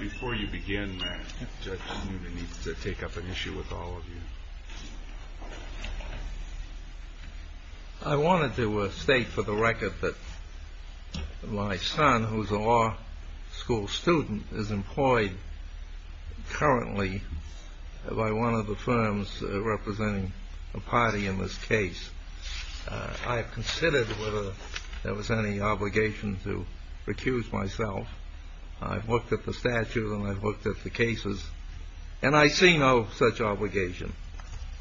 Before you begin, Judge Newman needs to take up an issue with all of you. I wanted to state for the record that my son, who is a law school student, is employed currently by one of the firms representing a party in this case. I have considered whether there was any obligation to recuse myself. I've looked at the statute and I've looked at the cases, and I see no such obligation.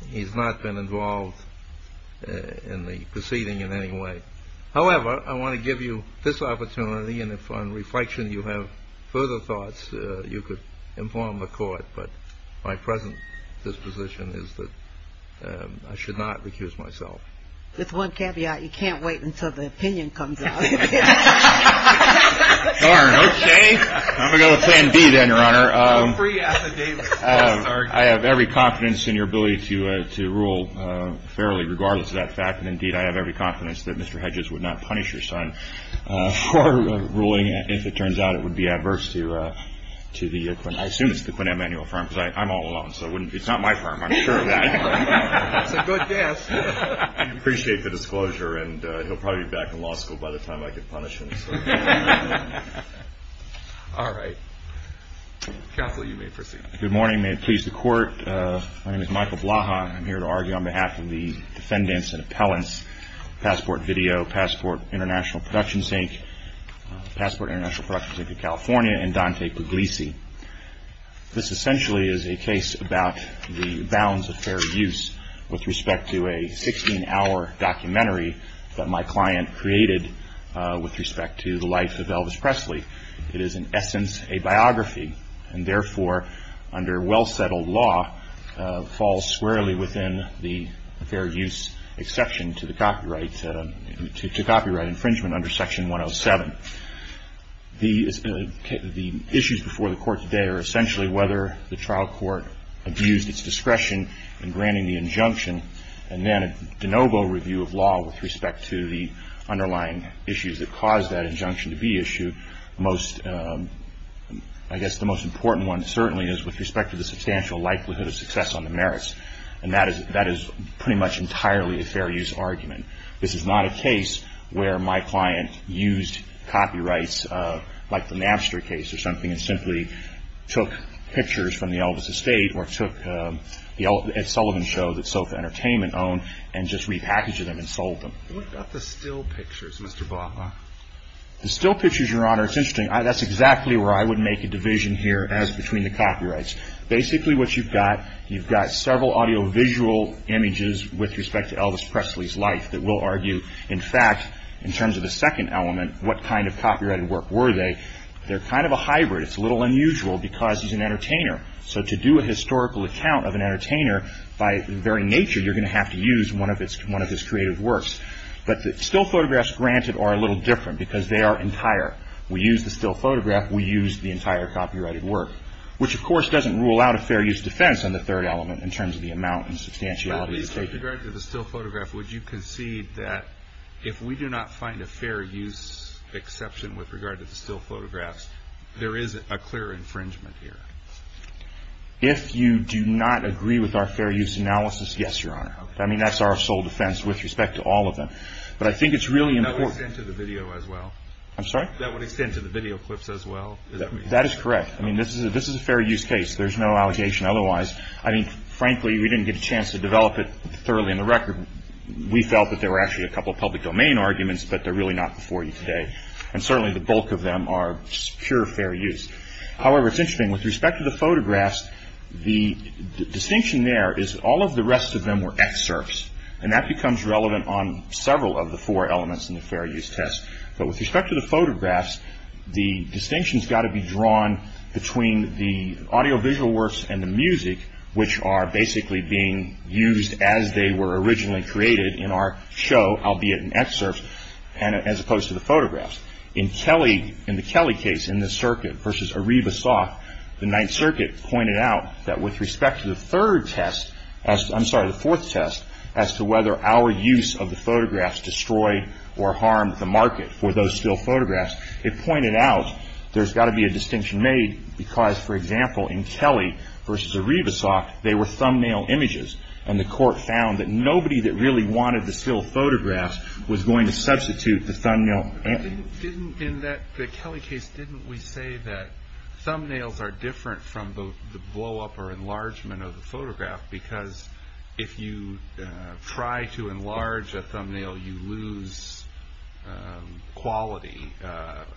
He's not been involved in the proceeding in any way. However, I want to give you this opportunity, and if on reflection you have further thoughts, you could inform the court, but my present disposition is that I should not recuse myself. With one caveat, you can't wait until the opinion comes out. I have every confidence in your ability to rule fairly, regardless of that fact, and indeed I have every confidence that Mr. Hedges would not punish your son for ruling, if it turns out it would be adverse to the, I assume it's the Quinnette Manual firm, because I'm all alone, so it's not my firm, I'm sure of that. That's a good guess. I appreciate the disclosure, and he'll probably be back in law school by the time I can punish him. All right. Counsel, you may proceed. Good morning. May it please the court. My name is Michael Blaha. I'm here to argue on behalf of the defendants and appellants, Passport Video, Passport International Production Sync, Passport International Production Sync of California, and Dante Puglisi. This essentially is a case about the bounds of fair use with respect to a 16-hour documentary that my client created with respect to the life of Elvis Presley. It is in essence a biography, and therefore, under well-settled law, falls squarely within the fair use exception to the copyright infringement under Section 107. The issues before the court today are essentially whether the trial court abused its discretion in granting the injunction, and then a de novo review of law with respect to the underlying issues that caused that injunction to be issued. I guess the most important one certainly is with respect to the substantial likelihood of success on the merits, and that is pretty much entirely a fair use argument. This is not a case where my client used copyrights like the Napster case or something and simply took pictures from the Elvis estate or took the Ed Sullivan show that Sofa Entertainment owned and just repackaged them and sold them. What about the still pictures, Mr. Blaha? The still pictures, Your Honor, it's interesting. That's exactly where I would make a division here as between the copyrights. Basically, what you've got, you've got several audiovisual images with respect to Elvis Presley's life that will argue, in fact, in terms of the second element, what kind of copyrighted work were they. They're kind of a hybrid. It's a little unusual because he's an entertainer. So to do a historical account of an entertainer, by the very nature, you're going to have to use one of his creative works. But the still photographs, granted, are a little different because they are entire. We use the still photograph, we use the entire copyrighted work, which, of course, doesn't rule out a fair use defense in the third element in terms of the amount and substantiality of the take. But with regard to the still photograph, would you concede that if we do not find a fair use exception with regard to the still photographs, there is a clear infringement here? If you do not agree with our fair use analysis, yes, Your Honor. I mean, that's our sole defense with respect to all of them. But I think it's really important. That would extend to the video as well? I'm sorry? That would extend to the video clips as well? That is correct. I mean, this is a fair use case. There's no allegation otherwise. I mean, frankly, we didn't get a chance to develop it thoroughly on the record. We felt that there were actually a couple of public domain arguments, but they're really not before you today. And certainly the bulk of them are just pure fair use. However, it's interesting, with respect to the photographs, the distinction there is all of the rest of them were excerpts, and that becomes relevant on several of the four elements in the fair use test. But with respect to the photographs, the distinction has got to be drawn between the audiovisual works and the music, which are basically being used as they were originally created in our show, albeit in excerpts, as opposed to the photographs. In Kelly, in the Kelly case, in the circuit versus Areva Soft, the Ninth Circuit pointed out that with respect to the third test, I'm sorry, the fourth test, as to whether our use of the photographs destroyed or harmed the market for those still photographs, it pointed out there's got to be a distinction made because, for example, in Kelly versus Areva Soft, they were thumbnail images, and the court found that nobody that really wanted the still photographs was going to substitute the thumbnail. In the Kelly case, didn't we say that thumbnails are different from the blow-up or enlargement of the photograph because if you try to enlarge a thumbnail, you lose quality of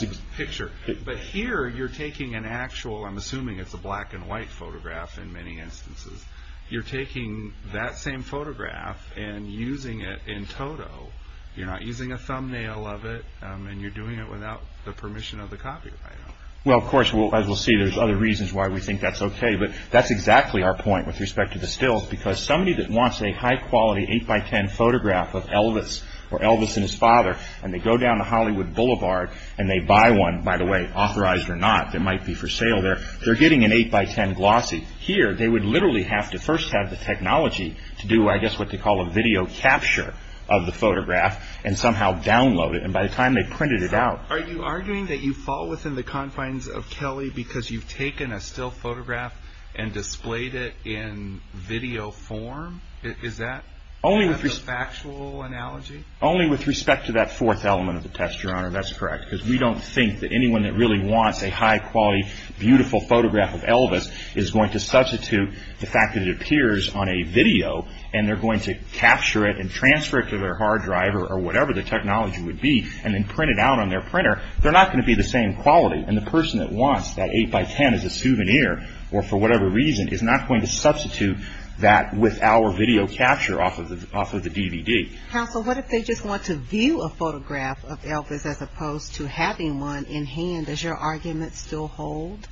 the picture. But here, you're taking an actual, I'm assuming it's a black-and-white photograph in many instances, you're taking that same photograph and using it in toto. You're not using a thumbnail of it, and you're doing it without the permission of the copyright owner. Well, of course, as we'll see, there's other reasons why we think that's okay, but that's exactly our point with respect to the stills because somebody that wants a high-quality 8x10 photograph of Elvis or Elvis and his father, and they go down to Hollywood Boulevard, and they buy one, by the way, authorized or not, it might be for sale there, they're getting an 8x10 glossy. Here, they would literally have to first have the technology to do, I guess, what they call a video capture of the photograph and somehow download it, and by the time they printed it out... Are you arguing that you fall within the confines of Kelly because you've taken a still photograph and displayed it in video form? Is that a factual analogy? Only with respect to that fourth element of the test, Your Honor. That's correct. Because we don't think that anyone that really wants a high-quality, beautiful photograph of Elvis is going to substitute the fact that it appears on a video, and they're going to capture it and transfer it to their hard drive or whatever the technology would be, and then print it out on their printer. They're not going to be the same quality, and the person that wants that 8x10 as a souvenir, or for whatever reason, is not going to substitute that with our video capture off of the DVD. Counsel, what if they just want to view a photograph of Elvis as opposed to having one in hand? Does your argument still hold?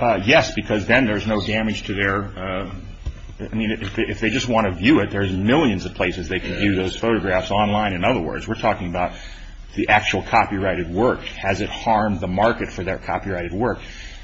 Yes, because then there's no damage to their... I mean, if they just want to view it, there's millions of places they can view those photographs online. In other words, we're talking about the actual copyrighted work. Has it harmed the market for their copyrighted work?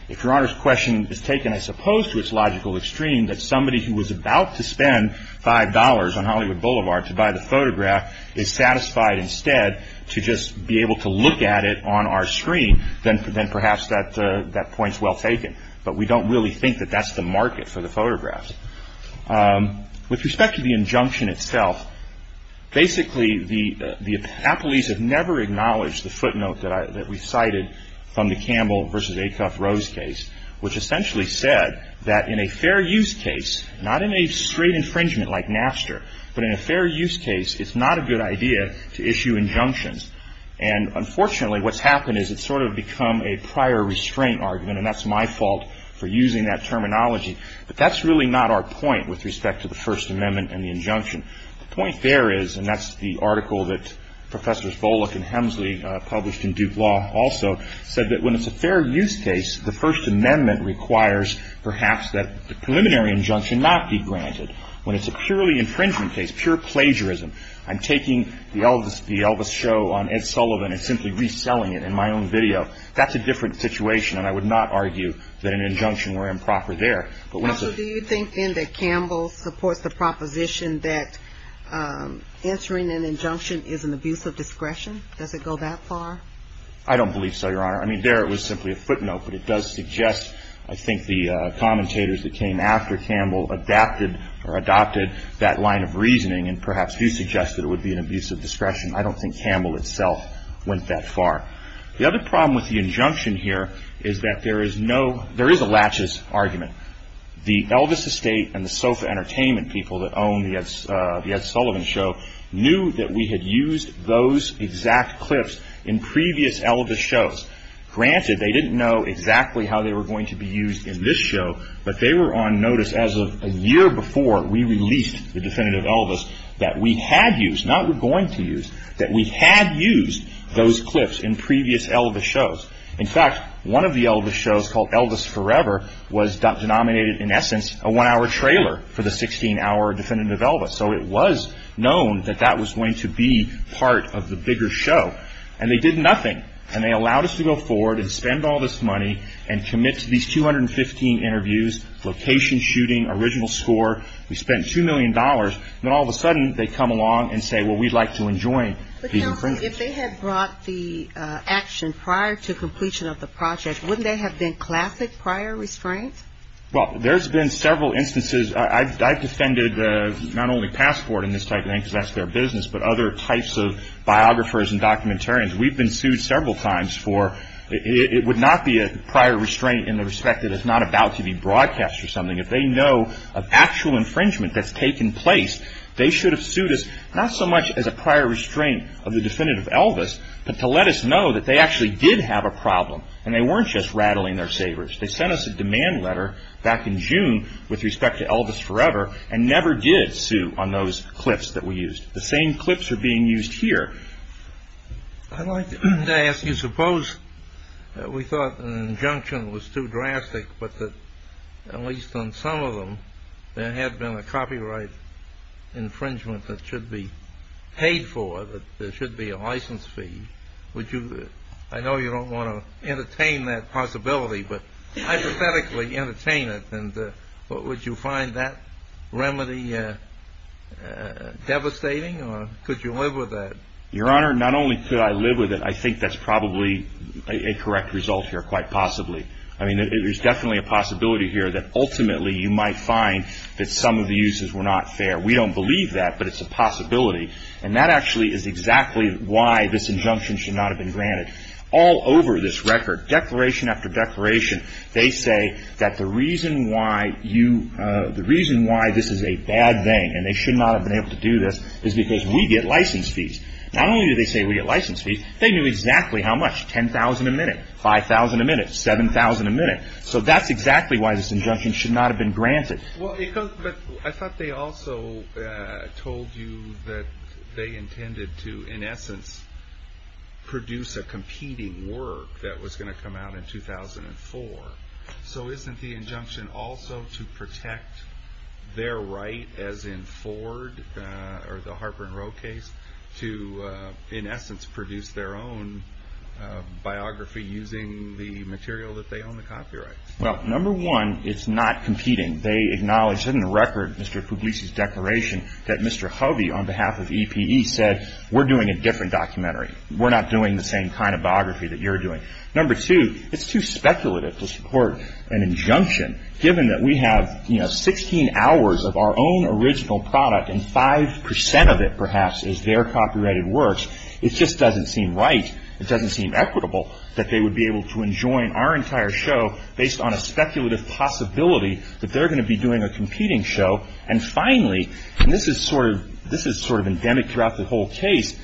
If Your Honor's question is taken as opposed to its logical extreme, that somebody who was about to spend $5 on Hollywood Boulevard to buy the photograph is satisfied instead to just be able to look at it on our screen, then perhaps that point's well taken. But we don't really think that that's the market for the photographs. With respect to the injunction itself, basically the appellees have never acknowledged the footnote that we cited from the Campbell v. Acuff-Rose case, which essentially said that in a fair use case, not in a straight infringement like Napster, but in a fair use case, it's not a good idea to issue injunctions. And unfortunately, what's happened is it's sort of become a prior restraint argument, and that's my fault for using that terminology. But that's really not our point with respect to the First Amendment and the injunction. The point there is, and that's the article that Professors Volokh and Hemsley published in Duke Law also, said that when it's a fair use case, the First Amendment requires perhaps that the preliminary injunction not be granted. When it's a purely infringement case, pure plagiarism, I'm taking the Elvis show on Ed Sullivan and simply reselling it in my own video. That's a different situation, and I would not argue that an injunction were improper there. But when it's a... Also, do you think, then, that Campbell supports the proposition that answering an injunction is an abuse of discretion? Does it go that far? I don't believe so, Your Honor. I mean, there it was simply a footnote, but it does suggest I think the commentators that came after Campbell adapted or adopted that line of reasoning and perhaps do suggest that it would be an abuse of discretion. I don't think Campbell itself went that far. The other problem with the injunction here is that there is no There is a laches argument. The Elvis Estate and the Sofa Entertainment people that own the Ed Sullivan show knew that we had used those exact clips in previous Elvis shows. Granted, they didn't know exactly how they were going to be used in this show, but they were on notice as of a year before we released the definitive Elvis that we had used, not were going to use, that we had used those clips in previous Elvis shows. In fact, one of the Elvis shows, called Elvis Forever, was denominated in essence a one-hour trailer for the 16-hour definitive Elvis. So it was known that that was going to be part of the bigger show. And they did nothing. And they allowed us to go forward and spend all this money and commit to these 215 interviews, location shooting, original score. We spent $2 million. Then all of a sudden they come along and say, well, we'd like to enjoy the infringement. Now, if they had brought the action prior to completion of the project, wouldn't they have been classic prior restraint? Well, there's been several instances. I've defended not only Passport and this type of thing, because that's their business, but other types of biographers and documentarians. We've been sued several times for it would not be a prior restraint in the respect that it's not about to be broadcast or something. If they know of actual infringement that's taken place, they should have sued us not so much as a prior restraint of the definitive Elvis, but to let us know that they actually did have a problem and they weren't just rattling their sabers. They sent us a demand letter back in June with respect to Elvis Forever and never did sue on those clips that we used. The same clips are being used here. I'd like to ask you, suppose we thought an injunction was too drastic, but that at least on some of them there had been a copyright infringement that should be paid for, that there should be a license fee. I know you don't want to entertain that possibility, but hypothetically entertain it. Would you find that remedy devastating or could you live with that? Your Honor, not only could I live with it, I think that's probably a correct result here quite possibly. There's definitely a possibility here that ultimately you might find that some of the uses were not fair. We don't believe that, but it's a possibility, and that actually is exactly why this injunction should not have been granted. All over this record, declaration after declaration, they say that the reason why this is a bad thing and they should not have been able to do this is because we get license fees. Not only do they say we get license fees, they knew exactly how much, $10,000 a minute, $5,000 a minute, $7,000 a minute. So that's exactly why this injunction should not have been granted. I thought they also told you that they intended to, in essence, produce a competing work that was going to come out in 2004. So isn't the injunction also to protect their right, as in Ford or the Harper and Rowe case, to, in essence, produce their own biography using the material that they own, the copyrights? Well, number one, it's not competing. They acknowledged it in the record, Mr. Puglisi's declaration, that Mr. Hovey, on behalf of EPE, said we're doing a different documentary. We're not doing the same kind of biography that you're doing. Number two, it's too speculative to support an injunction, given that we have 16 hours of our own original product and 5 percent of it, perhaps, is their copyrighted works. It just doesn't seem right. It doesn't seem equitable that they would be able to enjoin our entire show based on a speculative possibility that they're going to be doing a competing show. And finally, and this is sort of endemic throughout the whole case,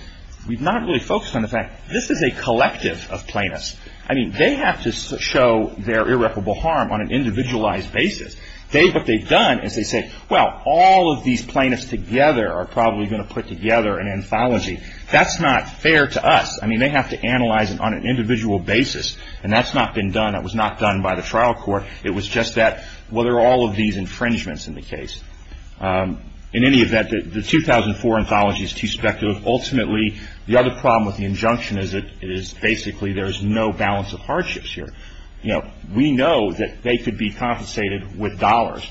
we've not really focused on the fact this is a collective of plaintiffs. I mean, they have to show their irreparable harm on an individualized basis. What they've done is they say, well, all of these plaintiffs together are probably going to put together an anthology. That's not fair to us. I mean, they have to analyze it on an individual basis. And that's not been done. That was not done by the trial court. It was just that, well, there are all of these infringements in the case. In any event, the 2004 anthology is too speculative. Ultimately, the other problem with the injunction is basically there is no balance of hardships here. We know that they could be compensated with dollars.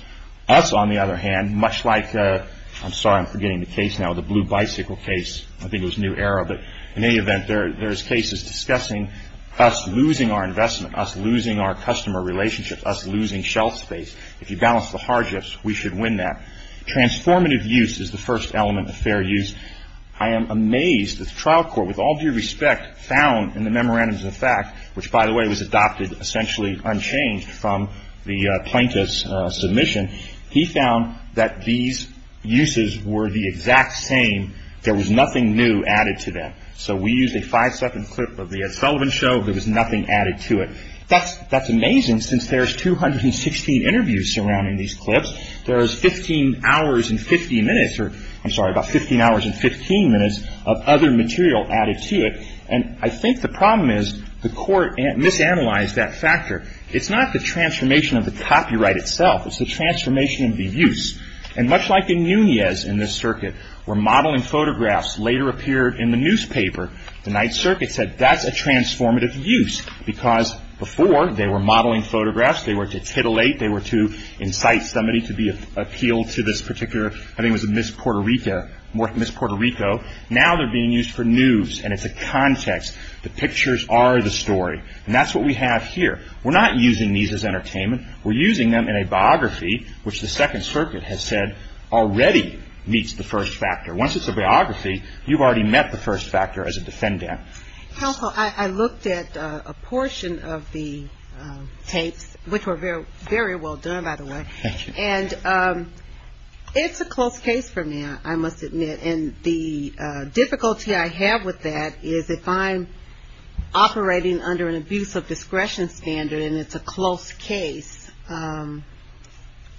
Us, on the other hand, much like, I'm sorry, I'm forgetting the case now, the Blue Bicycle case, I think it was New Era, but in any event, there's cases discussing us losing our investment, us losing our customer relationship, us losing shelf space. If you balance the hardships, we should win that. Transformative use is the first element of fair use. I am amazed that the trial court, with all due respect, found in the Memorandums of Effect, which, by the way, was adopted essentially unchanged from the plaintiff's submission, he found that these uses were the exact same. There was nothing new added to them. So we used a five-second clip of the Ed Sullivan show. There was nothing added to it. That's amazing since there's 216 interviews surrounding these clips. There's 15 hours and 50 minutes, or I'm sorry, about 15 hours and 15 minutes of other material added to it. And I think the problem is the court misanalyzed that factor. It's not the transformation of the copyright itself. It's the transformation of the use. And much like in Nunez in this circuit, where modeling photographs later appeared in the newspaper, the Ninth Circuit said that's a transformative use because before they were modeling photographs. They were to titillate. They were to incite somebody to be appealed to this particular, I think it was Miss Puerto Rico. Now they're being used for news and it's a context. The pictures are the story. And that's what we have here. We're not using these as entertainment. We're using them in a biography, which the Second Circuit has said already meets the first factor. Once it's a biography, you've already met the first factor as a defendant. Counsel, I looked at a portion of the tapes, which were very well done, by the way. Thank you. And it's a close case for now, I must admit. And the difficulty I have with that is if I'm operating under an abuse of discretion standard and it's a close case,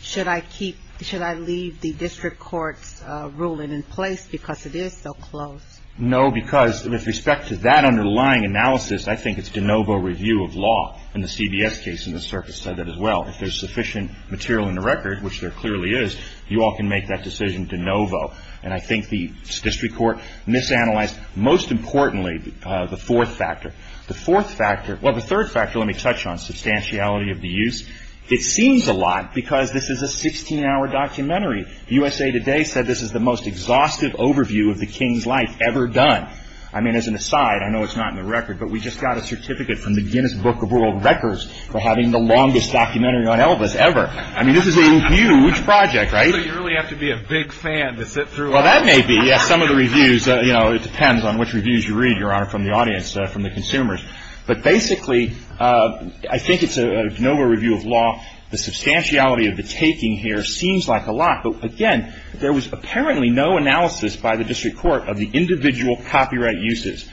should I leave the district court's ruling in place because it is so close? No, because with respect to that underlying analysis, I think it's de novo review of law in the CBS case and the circuit said that as well. If there's sufficient material in the record, which there clearly is, you all can make that decision de novo. And I think the district court misanalyzed, most importantly, the fourth factor. The fourth factor, well, the third factor, let me touch on, substantiality of the use, it seems a lot because this is a 16-hour documentary. USA Today said this is the most exhaustive overview of the king's life ever done. I mean, as an aside, I know it's not in the record, but we just got a certificate from the Guinness Book of World Records for having the longest documentary on Elvis ever. I mean, this is a huge project, right? So you really have to be a big fan to sit through all this? Well, that may be, yes. Some of the reviews, you know, it depends on which reviews you read, Your Honor, from the audience, from the consumers. But basically, I think it's a de novo review of law. The substantiality of the taking here seems like a lot. But again, there was apparently no analysis by the district court of the individual copyright uses.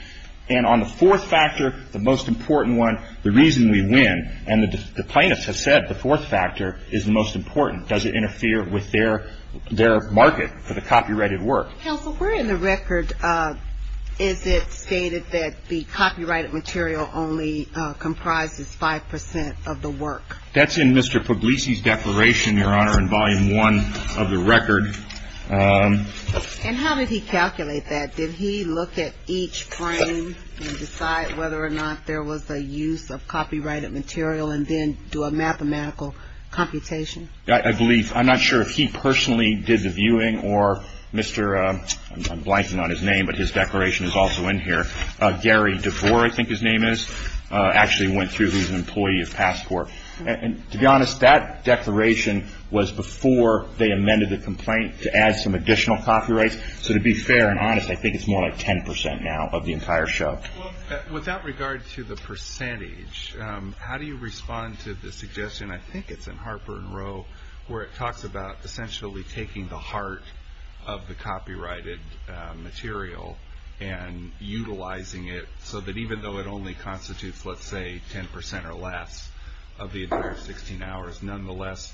And on the fourth factor, the most important one, the reason we win, and the plaintiffs have said the fourth factor is the most important. Does it interfere with their market for the copyrighted work? Counsel, where in the record is it stated that the copyrighted material only comprises 5% of the work? That's in Mr. Puglisi's declaration, Your Honor, in Volume 1 of the record. And how did he calculate that? Did he look at each frame and decide whether or not there was a use of copyrighted material and then do a mathematical computation? I believe. I'm not sure if he personally did the viewing or Mr. I'm blanking on his name, but his declaration is also in here. Gary DeVore, I think his name is, actually went through. He's an employee of Passport. And to be honest, that declaration was before they amended the complaint to add some additional copyrights. So to be fair and honest, I think it's more like 10% now of the entire show. With that regard to the percentage, how do you respond to the suggestion, I think it's in Harper and Row, where it talks about essentially taking the heart of the copyrighted material and utilizing it so that even though it only constitutes, let's say, 10% or less of the entire 16 hours, nonetheless,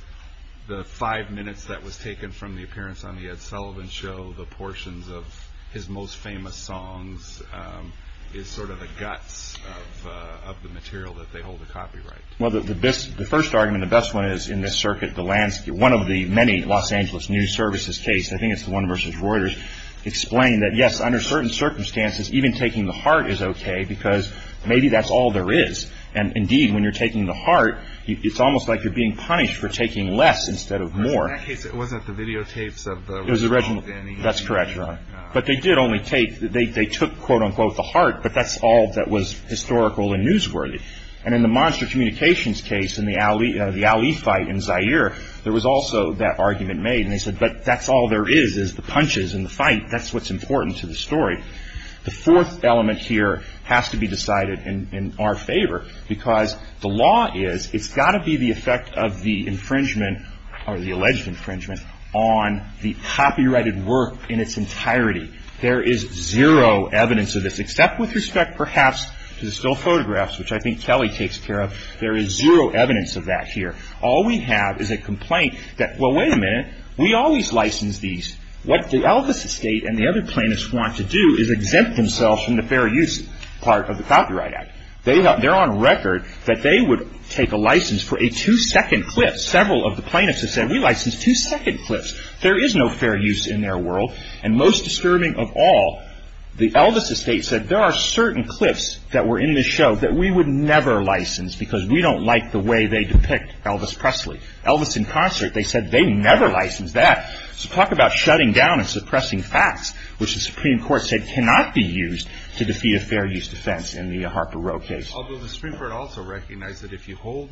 the five minutes that was taken from the appearance on the Ed Sullivan show, the portions of his most famous songs, is sort of the guts of the material that they hold a copyright. Well, the first argument, the best one is in this circuit, one of the many Los Angeles News Services case, I think it's the one versus Reuters, explained that yes, under certain circumstances, even taking the heart is okay because maybe that's all there is. And indeed, when you're taking the heart, it's almost like you're being punished for taking less instead of more. In that case, it wasn't the videotapes of the original. That's correct, Ron. But they did only take, they took, quote unquote, the heart, but that's all that was historical and newsworthy. And in the Monster Communications case, in the Ali fight in Zaire, there was also that argument made. And they said, but that's all there is, is the punches and the fight. That's what's important to the story. The fourth element here has to be decided in our favor because the law is, it's got to be the effect of the infringement or the alleged infringement on the copyrighted work in its entirety. There is zero evidence of this, except with respect, perhaps, to the still photographs, which I think Kelly takes care of. There is zero evidence of that here. All we have is a complaint that, well, wait a minute, we always license these. What the Elvis estate and the other plaintiffs want to do is exempt themselves from the fair use part of the Copyright Act. They're on record that they would take a license for a two-second clip. Several of the plaintiffs have said, we license two-second clips. There is no fair use in their world. And most disturbing of all, the Elvis estate said there are certain clips that were in this show that we would never license because we don't like the way they depict Elvis Presley. Elvis in concert, they said they never licensed that. So talk about shutting down and suppressing facts, which the Supreme Court said cannot be used to defeat a fair use defense in the Harper-Rowe case. Although the Supreme Court also recognized that if you hold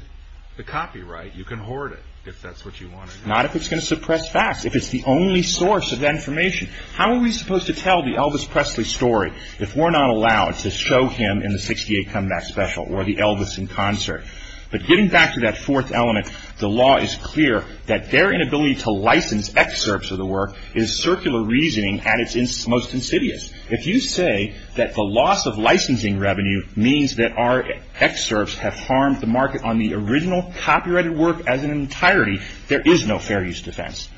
the copyright, you can hoard it, if that's what you want to do. Not if it's going to suppress facts, if it's the only source of that information. How are we supposed to tell the Elvis Presley story if we're not allowed to show him in the 68 Comeback Special or the Elvis in concert? But getting back to that fourth element, the law is clear that their inability to license excerpts of the work is circular reasoning at its most insidious. If you say that the loss of licensing revenue means that our excerpts have harmed the market on the original copyrighted work as an entirety, there is no fair use defense.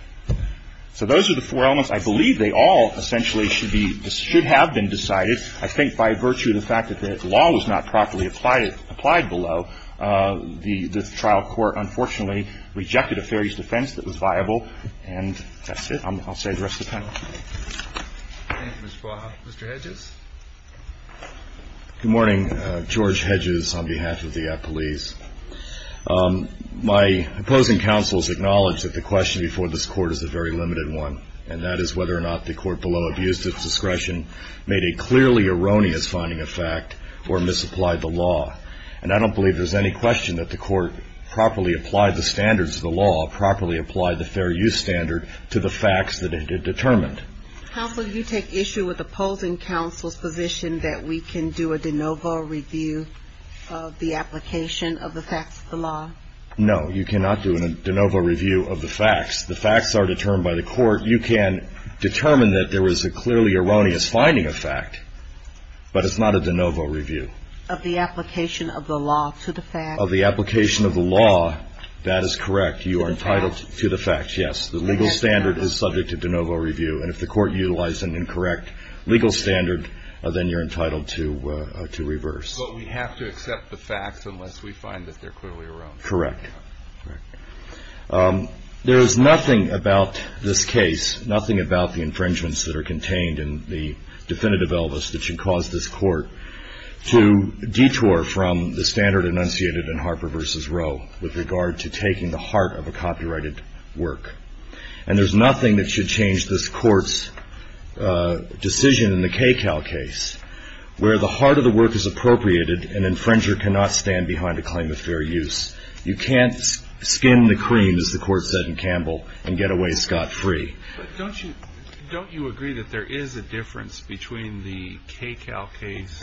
So those are the four elements. I believe they all essentially should have been decided, I think, by virtue of the fact that the law was not properly applied below. The trial court, unfortunately, rejected a fair use defense that was viable. And that's it. I'll say the rest of the panel. Thank you, Mr. Boyle. Mr. Hedges? Good morning. George Hedges on behalf of the police. My opposing counsels acknowledge that the question before this Court is a very limited one, and that is whether or not the Court below abused its discretion, made a clearly erroneous finding of fact, or misapplied the law. And I don't believe there's any question that the Court properly applied the standards of the law, properly applied the fair use standard to the facts that it determined. Counsel, do you take issue with opposing counsel's position that we can do a de novo review of the application of the facts of the law? No, you cannot do a de novo review of the facts. The facts are determined by the Court. You can determine that there was a clearly erroneous finding of fact, but it's not a de novo review. Of the application of the law to the facts? Of the application of the law, that is correct. You are entitled to the facts, yes. The legal standard is subject to de novo review. And if the Court utilized an incorrect legal standard, then you're entitled to reverse. But we have to accept the facts unless we find that they're clearly erroneous. Correct. There is nothing about this case, nothing about the infringements that are contained in the definitive Elvis, that should cause this Court to detour from the standard enunciated in Harper v. Roe with regard to taking the heart of a copyrighted work. And there's nothing that should change this Court's decision in the KCAL case where the heart of the work is appropriated and infringer cannot stand behind a claim of fair use. You can't skin the cream, as the Court said in Campbell, and get away scot-free. Don't you agree that there is a difference between the KCAL case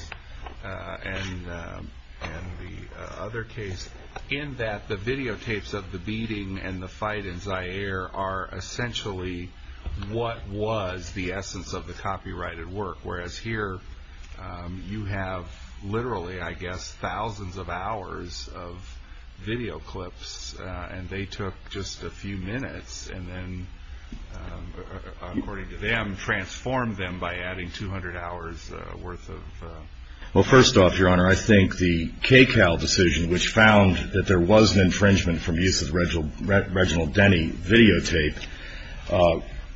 and the other case in that the videotapes of the beating and the fight in Zaire are essentially what was the essence of the copyrighted work, whereas here you have literally, I guess, thousands of hours of video clips, and they took just a few minutes and then, according to them, transformed them by adding 200 hours worth of... Well, first off, Your Honor, I think the KCAL decision, which found that there was an infringement from use of Reginald Denny videotape,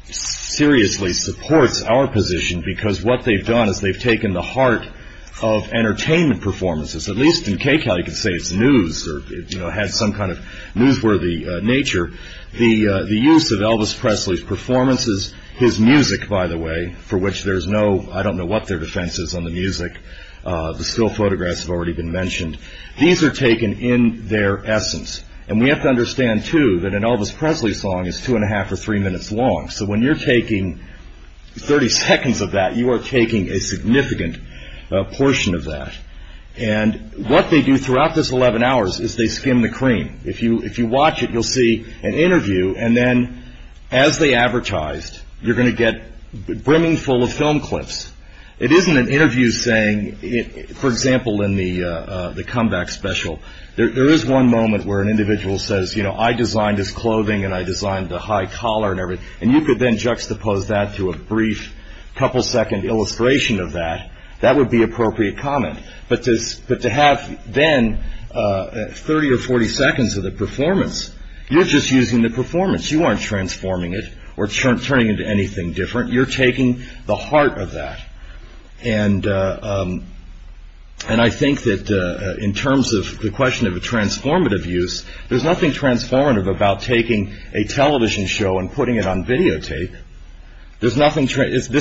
seriously supports our position because what they've done is they've taken the heart of entertainment performances. At least in KCAL you can say it's news or has some kind of newsworthy nature. The use of Elvis Presley's performances, his music, by the way, for which there's no... I don't know what their defense is on the music. The still photographs have already been mentioned. These are taken in their essence. And we have to understand, too, that an Elvis Presley song is two and a half or three minutes long. So when you're taking 30 seconds of that, you are taking a significant portion of that. And what they do throughout those 11 hours is they skim the cream. If you watch it, you'll see an interview, and then, as they advertised, you're going to get a brimming full of film clips. It isn't an interview saying, for example, in the comeback special, there is one moment where an individual says, you know, I designed his clothing and I designed the high collar and everything. And you could then juxtapose that to a brief couple-second illustration of that. That would be appropriate comment. But to have then 30 or 40 seconds of the performance, you're just using the performance. You aren't transforming it or turning it into anything different. You're taking the heart of that. And I think that in terms of the question of a transformative use, there's nothing transformative about taking a television show and putting it on videotape. This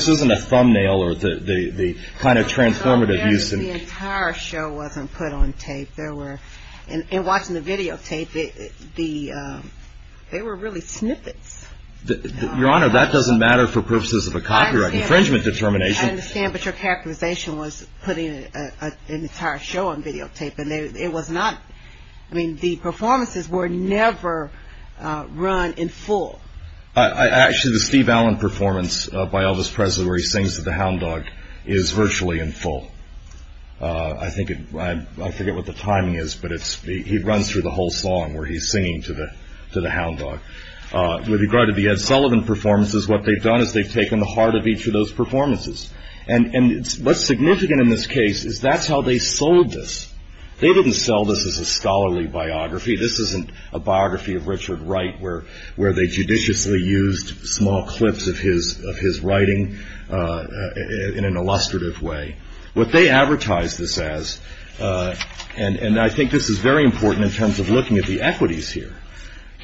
isn't a thumbnail or the kind of transformative use. The entire show wasn't put on tape. In watching the videotape, they were really snippets. Your Honor, that doesn't matter for purposes of a copyright infringement determination. I understand, but your characterization was putting an entire show on videotape, and it was not. I mean, the performances were never run in full. Actually, the Steve Allen performance by Elvis Presley where he sings to the hound dog is virtually in full. I forget what the timing is, but he runs through the whole song where he's singing to the hound dog. With regard to the Ed Sullivan performances, what they've done is they've taken the heart of each of those performances. And what's significant in this case is that's how they sold this. They didn't sell this as a scholarly biography. This isn't a biography of Richard Wright where they judiciously used small clips of his writing in an illustrative way. What they advertised this as, and I think this is very important in terms of looking at the equities here,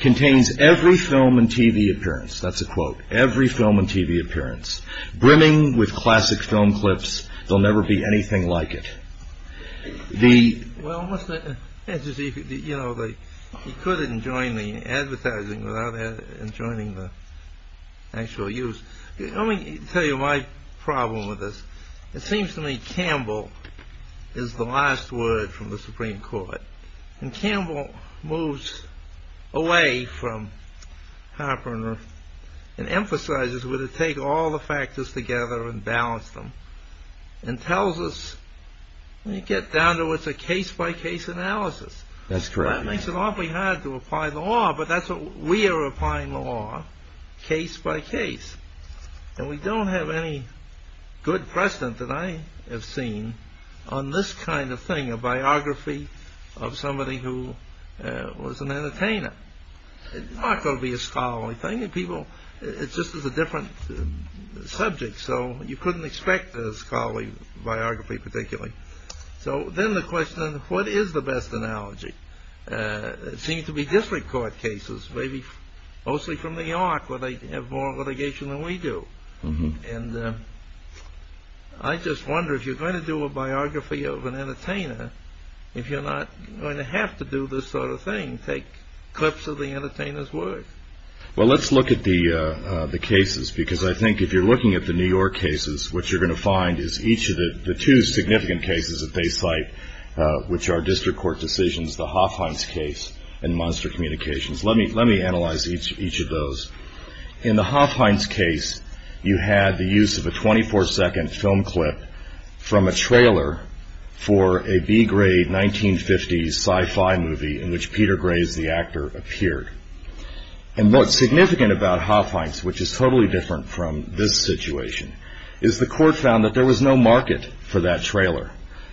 contains every film and TV appearance. That's a quote. Every film and TV appearance. Brimming with classic film clips. There'll never be anything like it. Well, you know, you couldn't join the advertising without joining the actual use. Let me tell you my problem with this. It seems to me Campbell is the last word from the Supreme Court. And Campbell moves away from Hopper and emphasizes we're going to take all the factors together and balance them. And tells us, when you get down to it, it's a case-by-case analysis. That's correct. That makes it awfully hard to apply the law, but that's what we are applying the law, case-by-case. And we don't have any good precedent that I have seen on this kind of thing, a biography of somebody who was an entertainer. It's not going to be a scholarly thing. It's just a different subject, so you couldn't expect a scholarly biography particularly. So then the question, what is the best analogy? It seems to be district court cases, maybe mostly from New York where they have more litigation than we do. And I just wonder, if you're going to do a biography of an entertainer, if you're not going to have to do this sort of thing, take clips of the entertainer's work. Well, let's look at the cases, because I think if you're looking at the New York cases, what you're going to find is each of the two significant cases that they cite, which are district court decisions, the Hofheinz case and Monster Communications. Let me analyze each of those. In the Hofheinz case, you had the use of a 24-second film clip from a trailer for a B-grade 1950s sci-fi movie in which Peter Graves, the actor, appeared. And what's significant about Hofheinz, which is totally different from this situation, is the court found that there was no market for that trailer.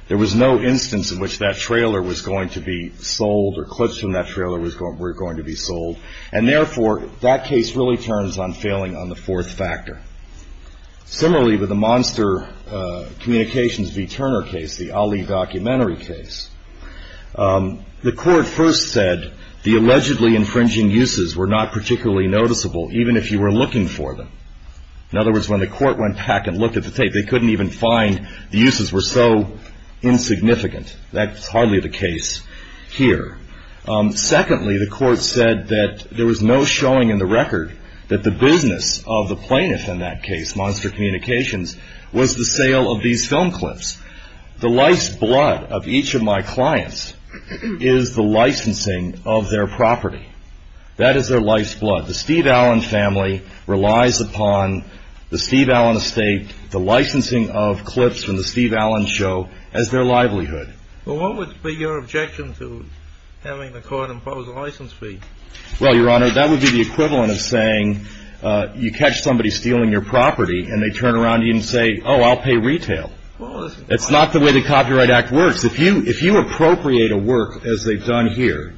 There was no instance in which that trailer was going to be sold or clips from that trailer were going to be sold. And therefore, that case really turns on failing on the fourth factor. Similarly, with the Monster Communications v. Turner case, the Ali documentary case, the court first said the allegedly infringing uses were not particularly noticeable, even if you were looking for them. In other words, when the court went back and looked at the tape, they couldn't even find the uses were so insignificant. That's hardly the case here. Secondly, the court said that there was no showing in the record that the business of the plaintiff in that case, Monster Communications, was the sale of these film clips. The life's blood of each of my clients is the licensing of their property. That is their life's blood. The Steve Allen family relies upon the Steve Allen estate, the licensing of clips from the Steve Allen show, as their livelihood. Well, what would be your objection to having the court impose a license fee? Well, Your Honor, that would be the equivalent of saying you catch somebody stealing your property and they turn around to you and say, oh, I'll pay retail. That's not the way the Copyright Act works. If you appropriate a work as they've done here,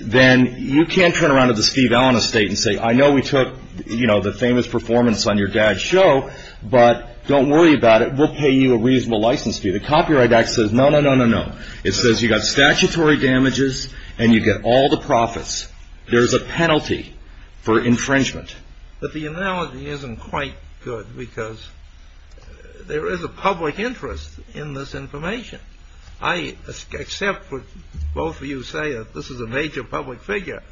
then you can't turn around to the Steve Allen estate and say, I know we took, you know, the famous performance on your dad's show, but don't worry about it. We'll pay you a reasonable license fee. The Copyright Act says no, no, no, no, no. It says you got statutory damages and you get all the profits. There's a penalty for infringement. But the analogy isn't quite good because there is a public interest in this information. I accept what both of you say, that this is a major public figure.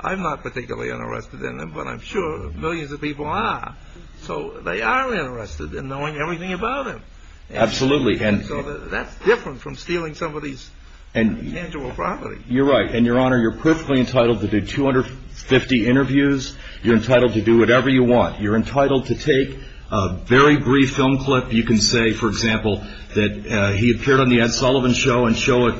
I'm not particularly interested in him, but I'm sure millions of people are. So they are interested in knowing everything about him. Absolutely. So that's different from stealing somebody's tangible property. You're right. And, Your Honor, you're perfectly entitled to do 250 interviews. You're entitled to do whatever you want. You're entitled to take a very brief film clip. You can say, for example, that he appeared on the Ed Sullivan Show and show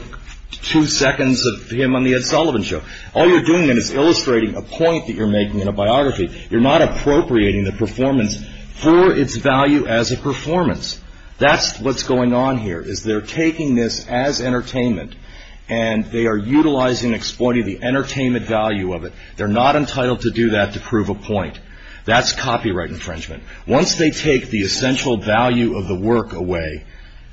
two seconds of him on the Ed Sullivan Show. All you're doing then is illustrating a point that you're making in a biography. You're not appropriating the performance for its value as a performance. That's what's going on here, is they're taking this as entertainment and they are utilizing and exploiting the entertainment value of it. They're not entitled to do that to prove a point. That's copyright infringement. Once they take the essential value of the work away,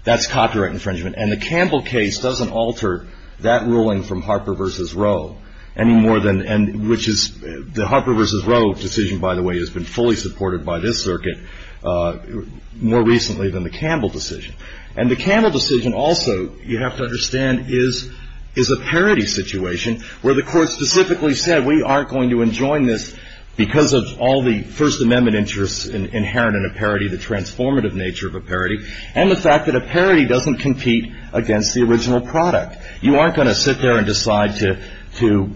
that's copyright infringement. And the Campbell case doesn't alter that ruling from Harper v. Roe any more than which is the Harper v. Roe decision, by the way, has been fully supported by this circuit more recently than the Campbell decision. And the Campbell decision also, you have to understand, is a parity situation where the court specifically said, we aren't going to enjoy this because of all the First Amendment interests inherent in a parity, the transformative nature of a parity, and the fact that a parity doesn't compete against the original product. You aren't going to sit there and decide to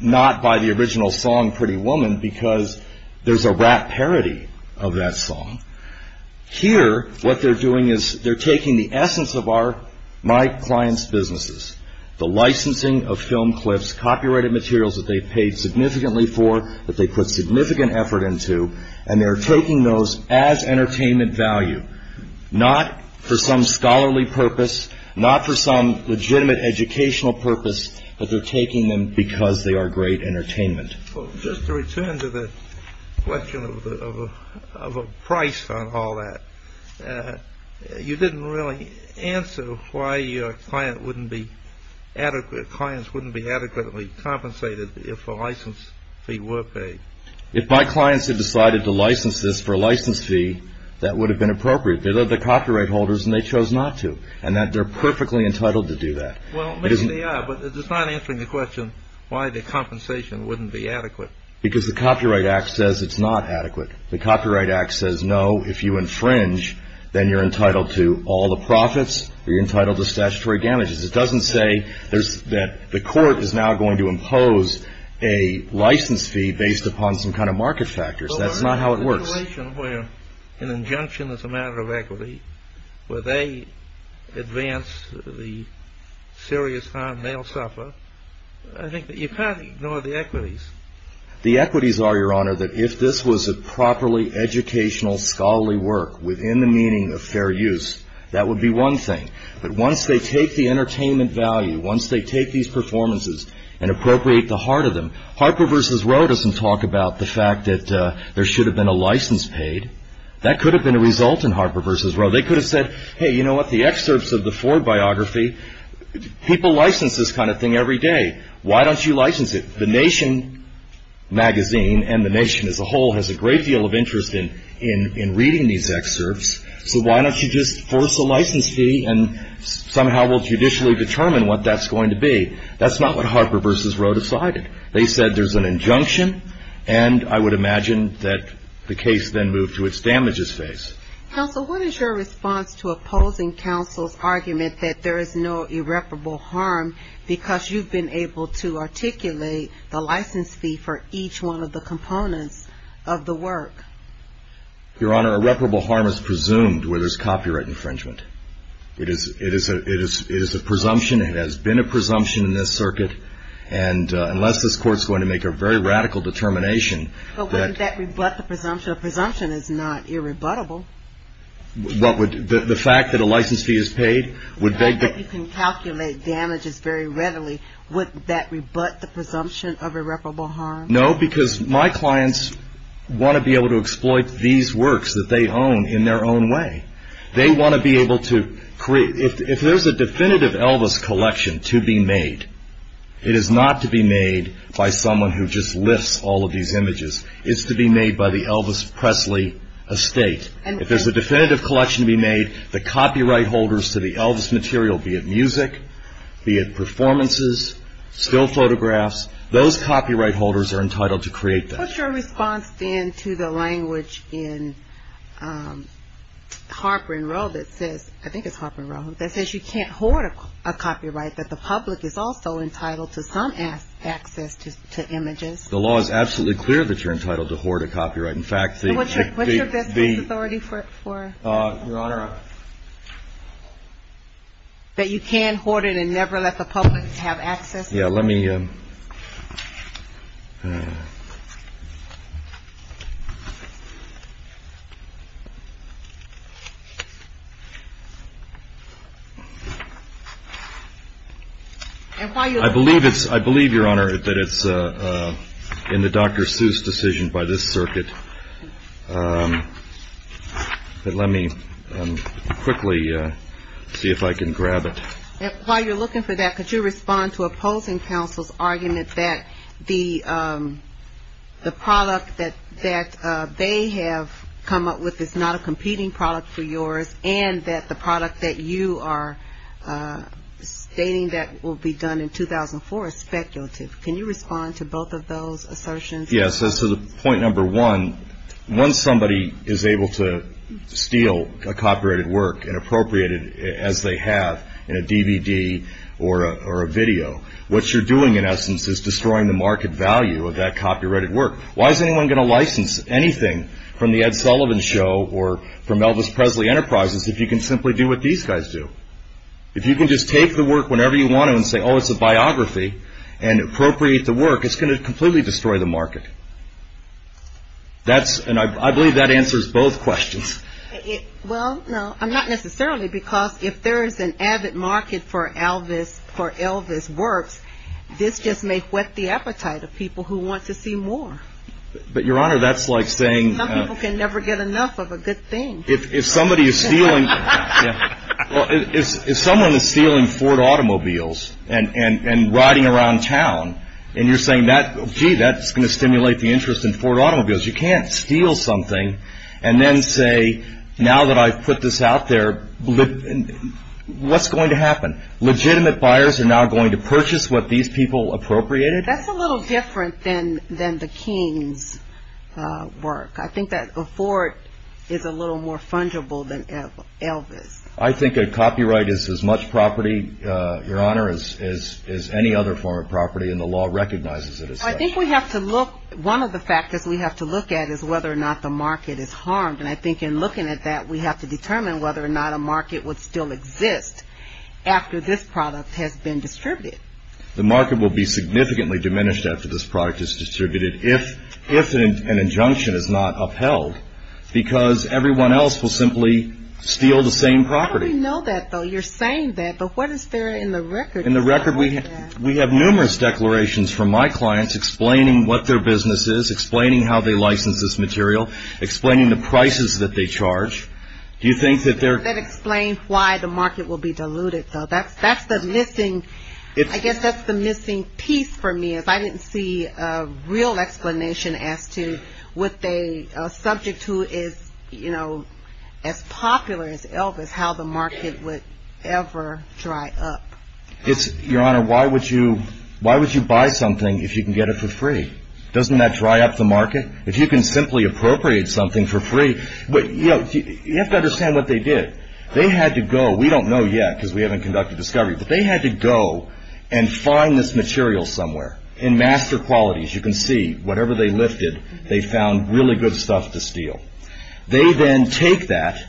not buy the original song, Pretty Woman, because there's a rap parody of that song. Here, what they're doing is they're taking the essence of my client's businesses, the licensing of film clips, copyrighted materials that they've paid significantly for, that they put significant effort into, and they're taking those as entertainment value, not for some scholarly purpose, not for some legitimate educational purpose, but they're taking them because they are great entertainment. Well, just to return to the question of a price on all that, you didn't really answer why your clients wouldn't be adequately compensated if a license fee were paid. If my clients had decided to license this for a license fee, that would have been appropriate. They're the copyright holders, and they chose not to, and they're perfectly entitled to do that. Well, maybe they are, but it's not answering the question why the compensation wouldn't be adequate. Because the Copyright Act says it's not adequate. The Copyright Act says, no, if you infringe, then you're entitled to all the profits, or you're entitled to statutory damages. It doesn't say that the court is now going to impose a license fee based upon some kind of market factors. That's not how it works. Well, there's a situation where an injunction is a matter of equity, where they advance the serious harm they'll suffer. I think that you can't ignore the equities. The equities are, Your Honor, that if this was a properly educational scholarly work within the meaning of fair use, that would be one thing. But once they take the entertainment value, once they take these performances and appropriate the heart of them, Harper v. Roe doesn't talk about the fact that there should have been a license paid. That could have been a result in Harper v. Roe. They could have said, hey, you know what? The excerpts of the Ford biography, people license this kind of thing every day. Why don't you license it? The Nation magazine and the Nation as a whole has a great deal of interest in reading these excerpts, so why don't you just force a license fee and somehow we'll judicially determine what that's going to be. That's not what Harper v. Roe decided. They said there's an injunction, and I would imagine that the case then moved to its damages phase. Counsel, what is your response to opposing counsel's argument that there is no irreparable harm because you've been able to articulate the license fee for each one of the components of the work? Your Honor, irreparable harm is presumed where there's copyright infringement. It is a presumption. It has been a presumption in this circuit, and unless this Court is going to make a very radical determination that But wouldn't that rebut the presumption? A presumption is not irrebuttable. The fact that a license fee is paid would beg the You can calculate damages very readily. Would that rebut the presumption of irreparable harm? No, because my clients want to be able to exploit these works that they own in their own way. They want to be able to create If there's a definitive Elvis collection to be made, it is not to be made by someone who just lifts all of these images. It's to be made by the Elvis Presley estate. If there's a definitive collection to be made, the copyright holders to the Elvis material, be it music, be it performances, still photographs, those copyright holders are entitled to create that. What's your response then to the language in Harper and Row that says I think it's Harper and Row, that says you can't hoard a copyright, that the public is also entitled to some access to images? The law is absolutely clear that you're entitled to hoard a copyright. In fact, the What's your business authority for Your Honor That you can hoard it and never let the public have access to it? Yeah, let me I believe, Your Honor, that it's in the Dr. Seuss decision by this circuit But let me quickly see if I can grab it While you're looking for that, could you respond to opposing counsel's argument that the product that they have come up with is not a competing product for yours and that the product that you are stating that will be done in 2004 is speculative? Can you respond to both of those assertions? Yes, so point number one, once somebody is able to steal a copyrighted work and appropriate it as they have in a DVD or a video, what you're doing in essence is destroying the market value of that copyrighted work. Why is anyone going to license anything from the Ed Sullivan show or from Elvis Presley Enterprises if you can simply do what these guys do? If you can just take the work whenever you want it and say, oh, it's a biography and appropriate the work, it's going to completely destroy the market. And I believe that answers both questions. Well, no, not necessarily, because if there is an avid market for Elvis works, this just may whet the appetite of people who want to see more. But, Your Honor, that's like saying Some people can never get enough of a good thing. If somebody is stealing, if someone is stealing Ford automobiles and riding around town and you're saying, gee, that's going to stimulate the interest in Ford automobiles, you can't steal something and then say, now that I've put this out there, what's going to happen? Legitimate buyers are now going to purchase what these people appropriated? That's a little different than the King's work. I think that Ford is a little more fungible than Elvis. I think a copyright is as much property, Your Honor, as any other form of property, and the law recognizes it as such. I think we have to look. One of the factors we have to look at is whether or not the market is harmed. And I think in looking at that, we have to determine whether or not a market would still exist after this product has been distributed. The market will be significantly diminished after this product is distributed. If an injunction is not upheld, because everyone else will simply steal the same property. How do we know that, though? You're saying that, but what is there in the record? In the record, we have numerous declarations from my clients explaining what their business is, explaining how they license this material, explaining the prices that they charge. Do you think that they're That explains why the market will be diluted, though. That's the missing piece for me. I didn't see a real explanation as to what they, a subject who is, you know, as popular as Elvis, how the market would ever dry up. Your Honor, why would you buy something if you can get it for free? Doesn't that dry up the market? If you can simply appropriate something for free, you have to understand what they did. They had to go, we don't know yet because we haven't conducted discovery, but they had to go and find this material somewhere. In Master Quality, as you can see, whatever they lifted, they found really good stuff to steal. They then take that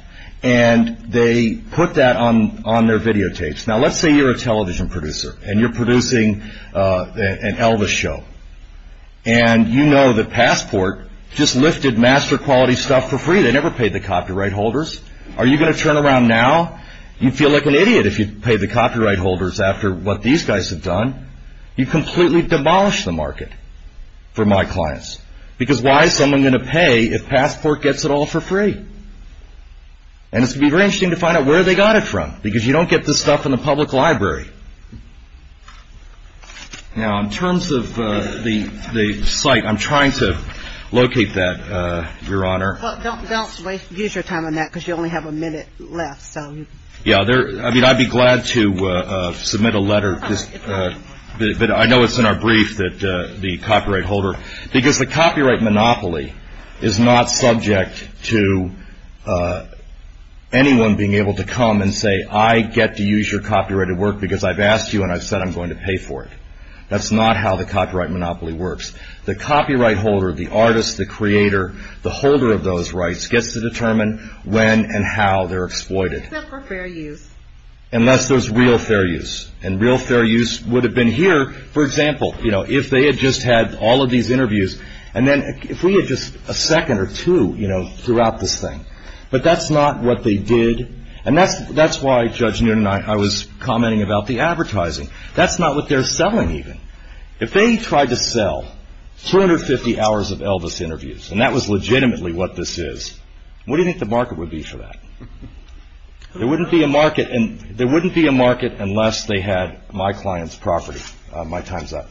and they put that on their videotapes. Now, let's say you're a television producer and you're producing an Elvis show. And you know that Passport just lifted Master Quality stuff for free. They never paid the copyright holders. Are you going to turn around now? You'd feel like an idiot if you paid the copyright holders after what these guys have done. You've completely demolished the market for my clients. Because why is someone going to pay if Passport gets it all for free? And it's going to be very interesting to find out where they got it from, because you don't get this stuff in the public library. Now, in terms of the site, I'm trying to locate that, Your Honor. Well, don't waste your time on that, because you only have a minute left. Yeah, I'd be glad to submit a letter. But I know it's in our brief, the copyright holder. Because the copyright monopoly is not subject to anyone being able to come and say, I get to use your copyrighted work because I've asked you and I've said I'm going to pay for it. That's not how the copyright monopoly works. The copyright holder, the artist, the creator, the holder of those rights, gets to determine when and how they're exploited. Except for fair use. Unless there's real fair use. And real fair use would have been here, for example, if they had just had all of these interviews. And then if we had just a second or two throughout this thing. But that's not what they did. And that's why, Judge Newton, I was commenting about the advertising. That's not what they're selling, even. If they tried to sell 250 hours of Elvis interviews, and that was legitimately what this is, what do you think the market would be for that? There wouldn't be a market unless they had my client's property. My time's up.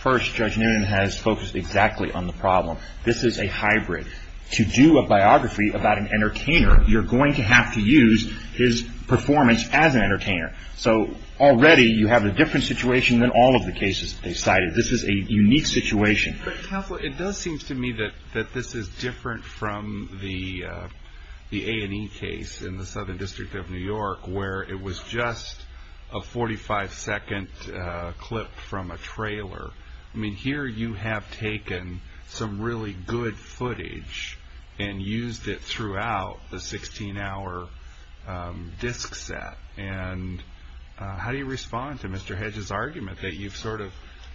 First, Judge Newton has focused exactly on the problem. This is a hybrid. To do a biography about an entertainer, you're going to have to use his performance as an entertainer. So already you have a different situation than all of the cases they cited. This is a unique situation. Counselor, it does seem to me that this is different from the A&E case in the Southern District of New York, where it was just a 45-second clip from a trailer. I mean, here you have taken some really good footage and used it throughout the 16-hour disc set. And how do you respond to Mr. Hedge's argument that you've sort of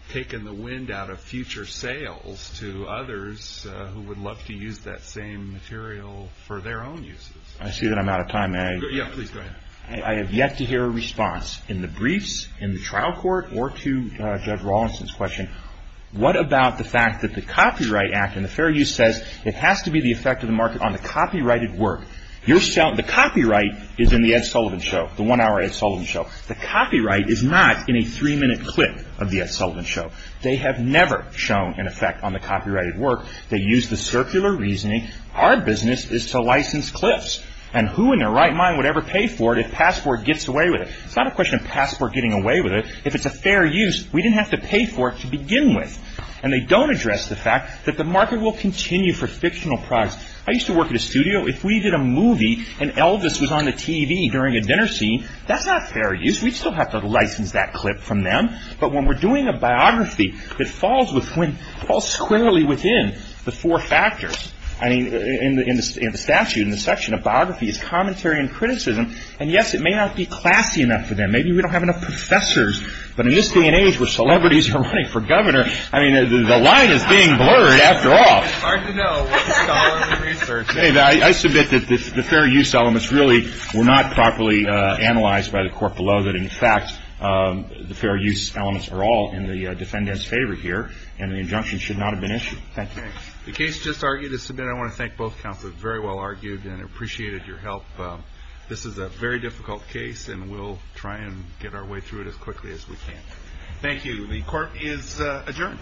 taken the wind out of future sales to others who would love to use that same material for their own uses? I see that I'm out of time. Yeah, please go ahead. I have yet to hear a response in the briefs, in the trial court, or to Judge Rawlinson's question. What about the fact that the Copyright Act and the Fair Use says it has to be the effect of the market on the copyrighted work? The copyright is in the Ed Sullivan Show, the one-hour Ed Sullivan Show. The copyright is not in a three-minute clip of the Ed Sullivan Show. They have never shown an effect on the copyrighted work. They use the circular reasoning, our business is to license cliffs. And who in their right mind would ever pay for it if Passport gets away with it? It's not a question of Passport getting away with it. If it's a fair use, we didn't have to pay for it to begin with. And they don't address the fact that the market will continue for fictional products. I used to work at a studio. If we did a movie and Elvis was on the TV during a dinner scene, that's not fair use. We'd still have to license that clip from them. But when we're doing a biography, it falls squarely within the four factors. I mean, in the statute, in the section of biography, it's commentary and criticism. And, yes, it may not be classy enough for them. Maybe we don't have enough professors. But in this day and age where celebrities are running for governor, I mean, the line is being blurred after all. It's hard to know what the scholar of research is. I submit that the fair use elements really were not properly analyzed by the court below, that, in fact, the fair use elements are all in the defendant's favor here, and the injunction should not have been issued. Thank you. The case just argued is submitted. I want to thank both counsels. Very well argued and appreciated your help. This is a very difficult case, and we'll try and get our way through it as quickly as we can. Thank you. The court is adjourned.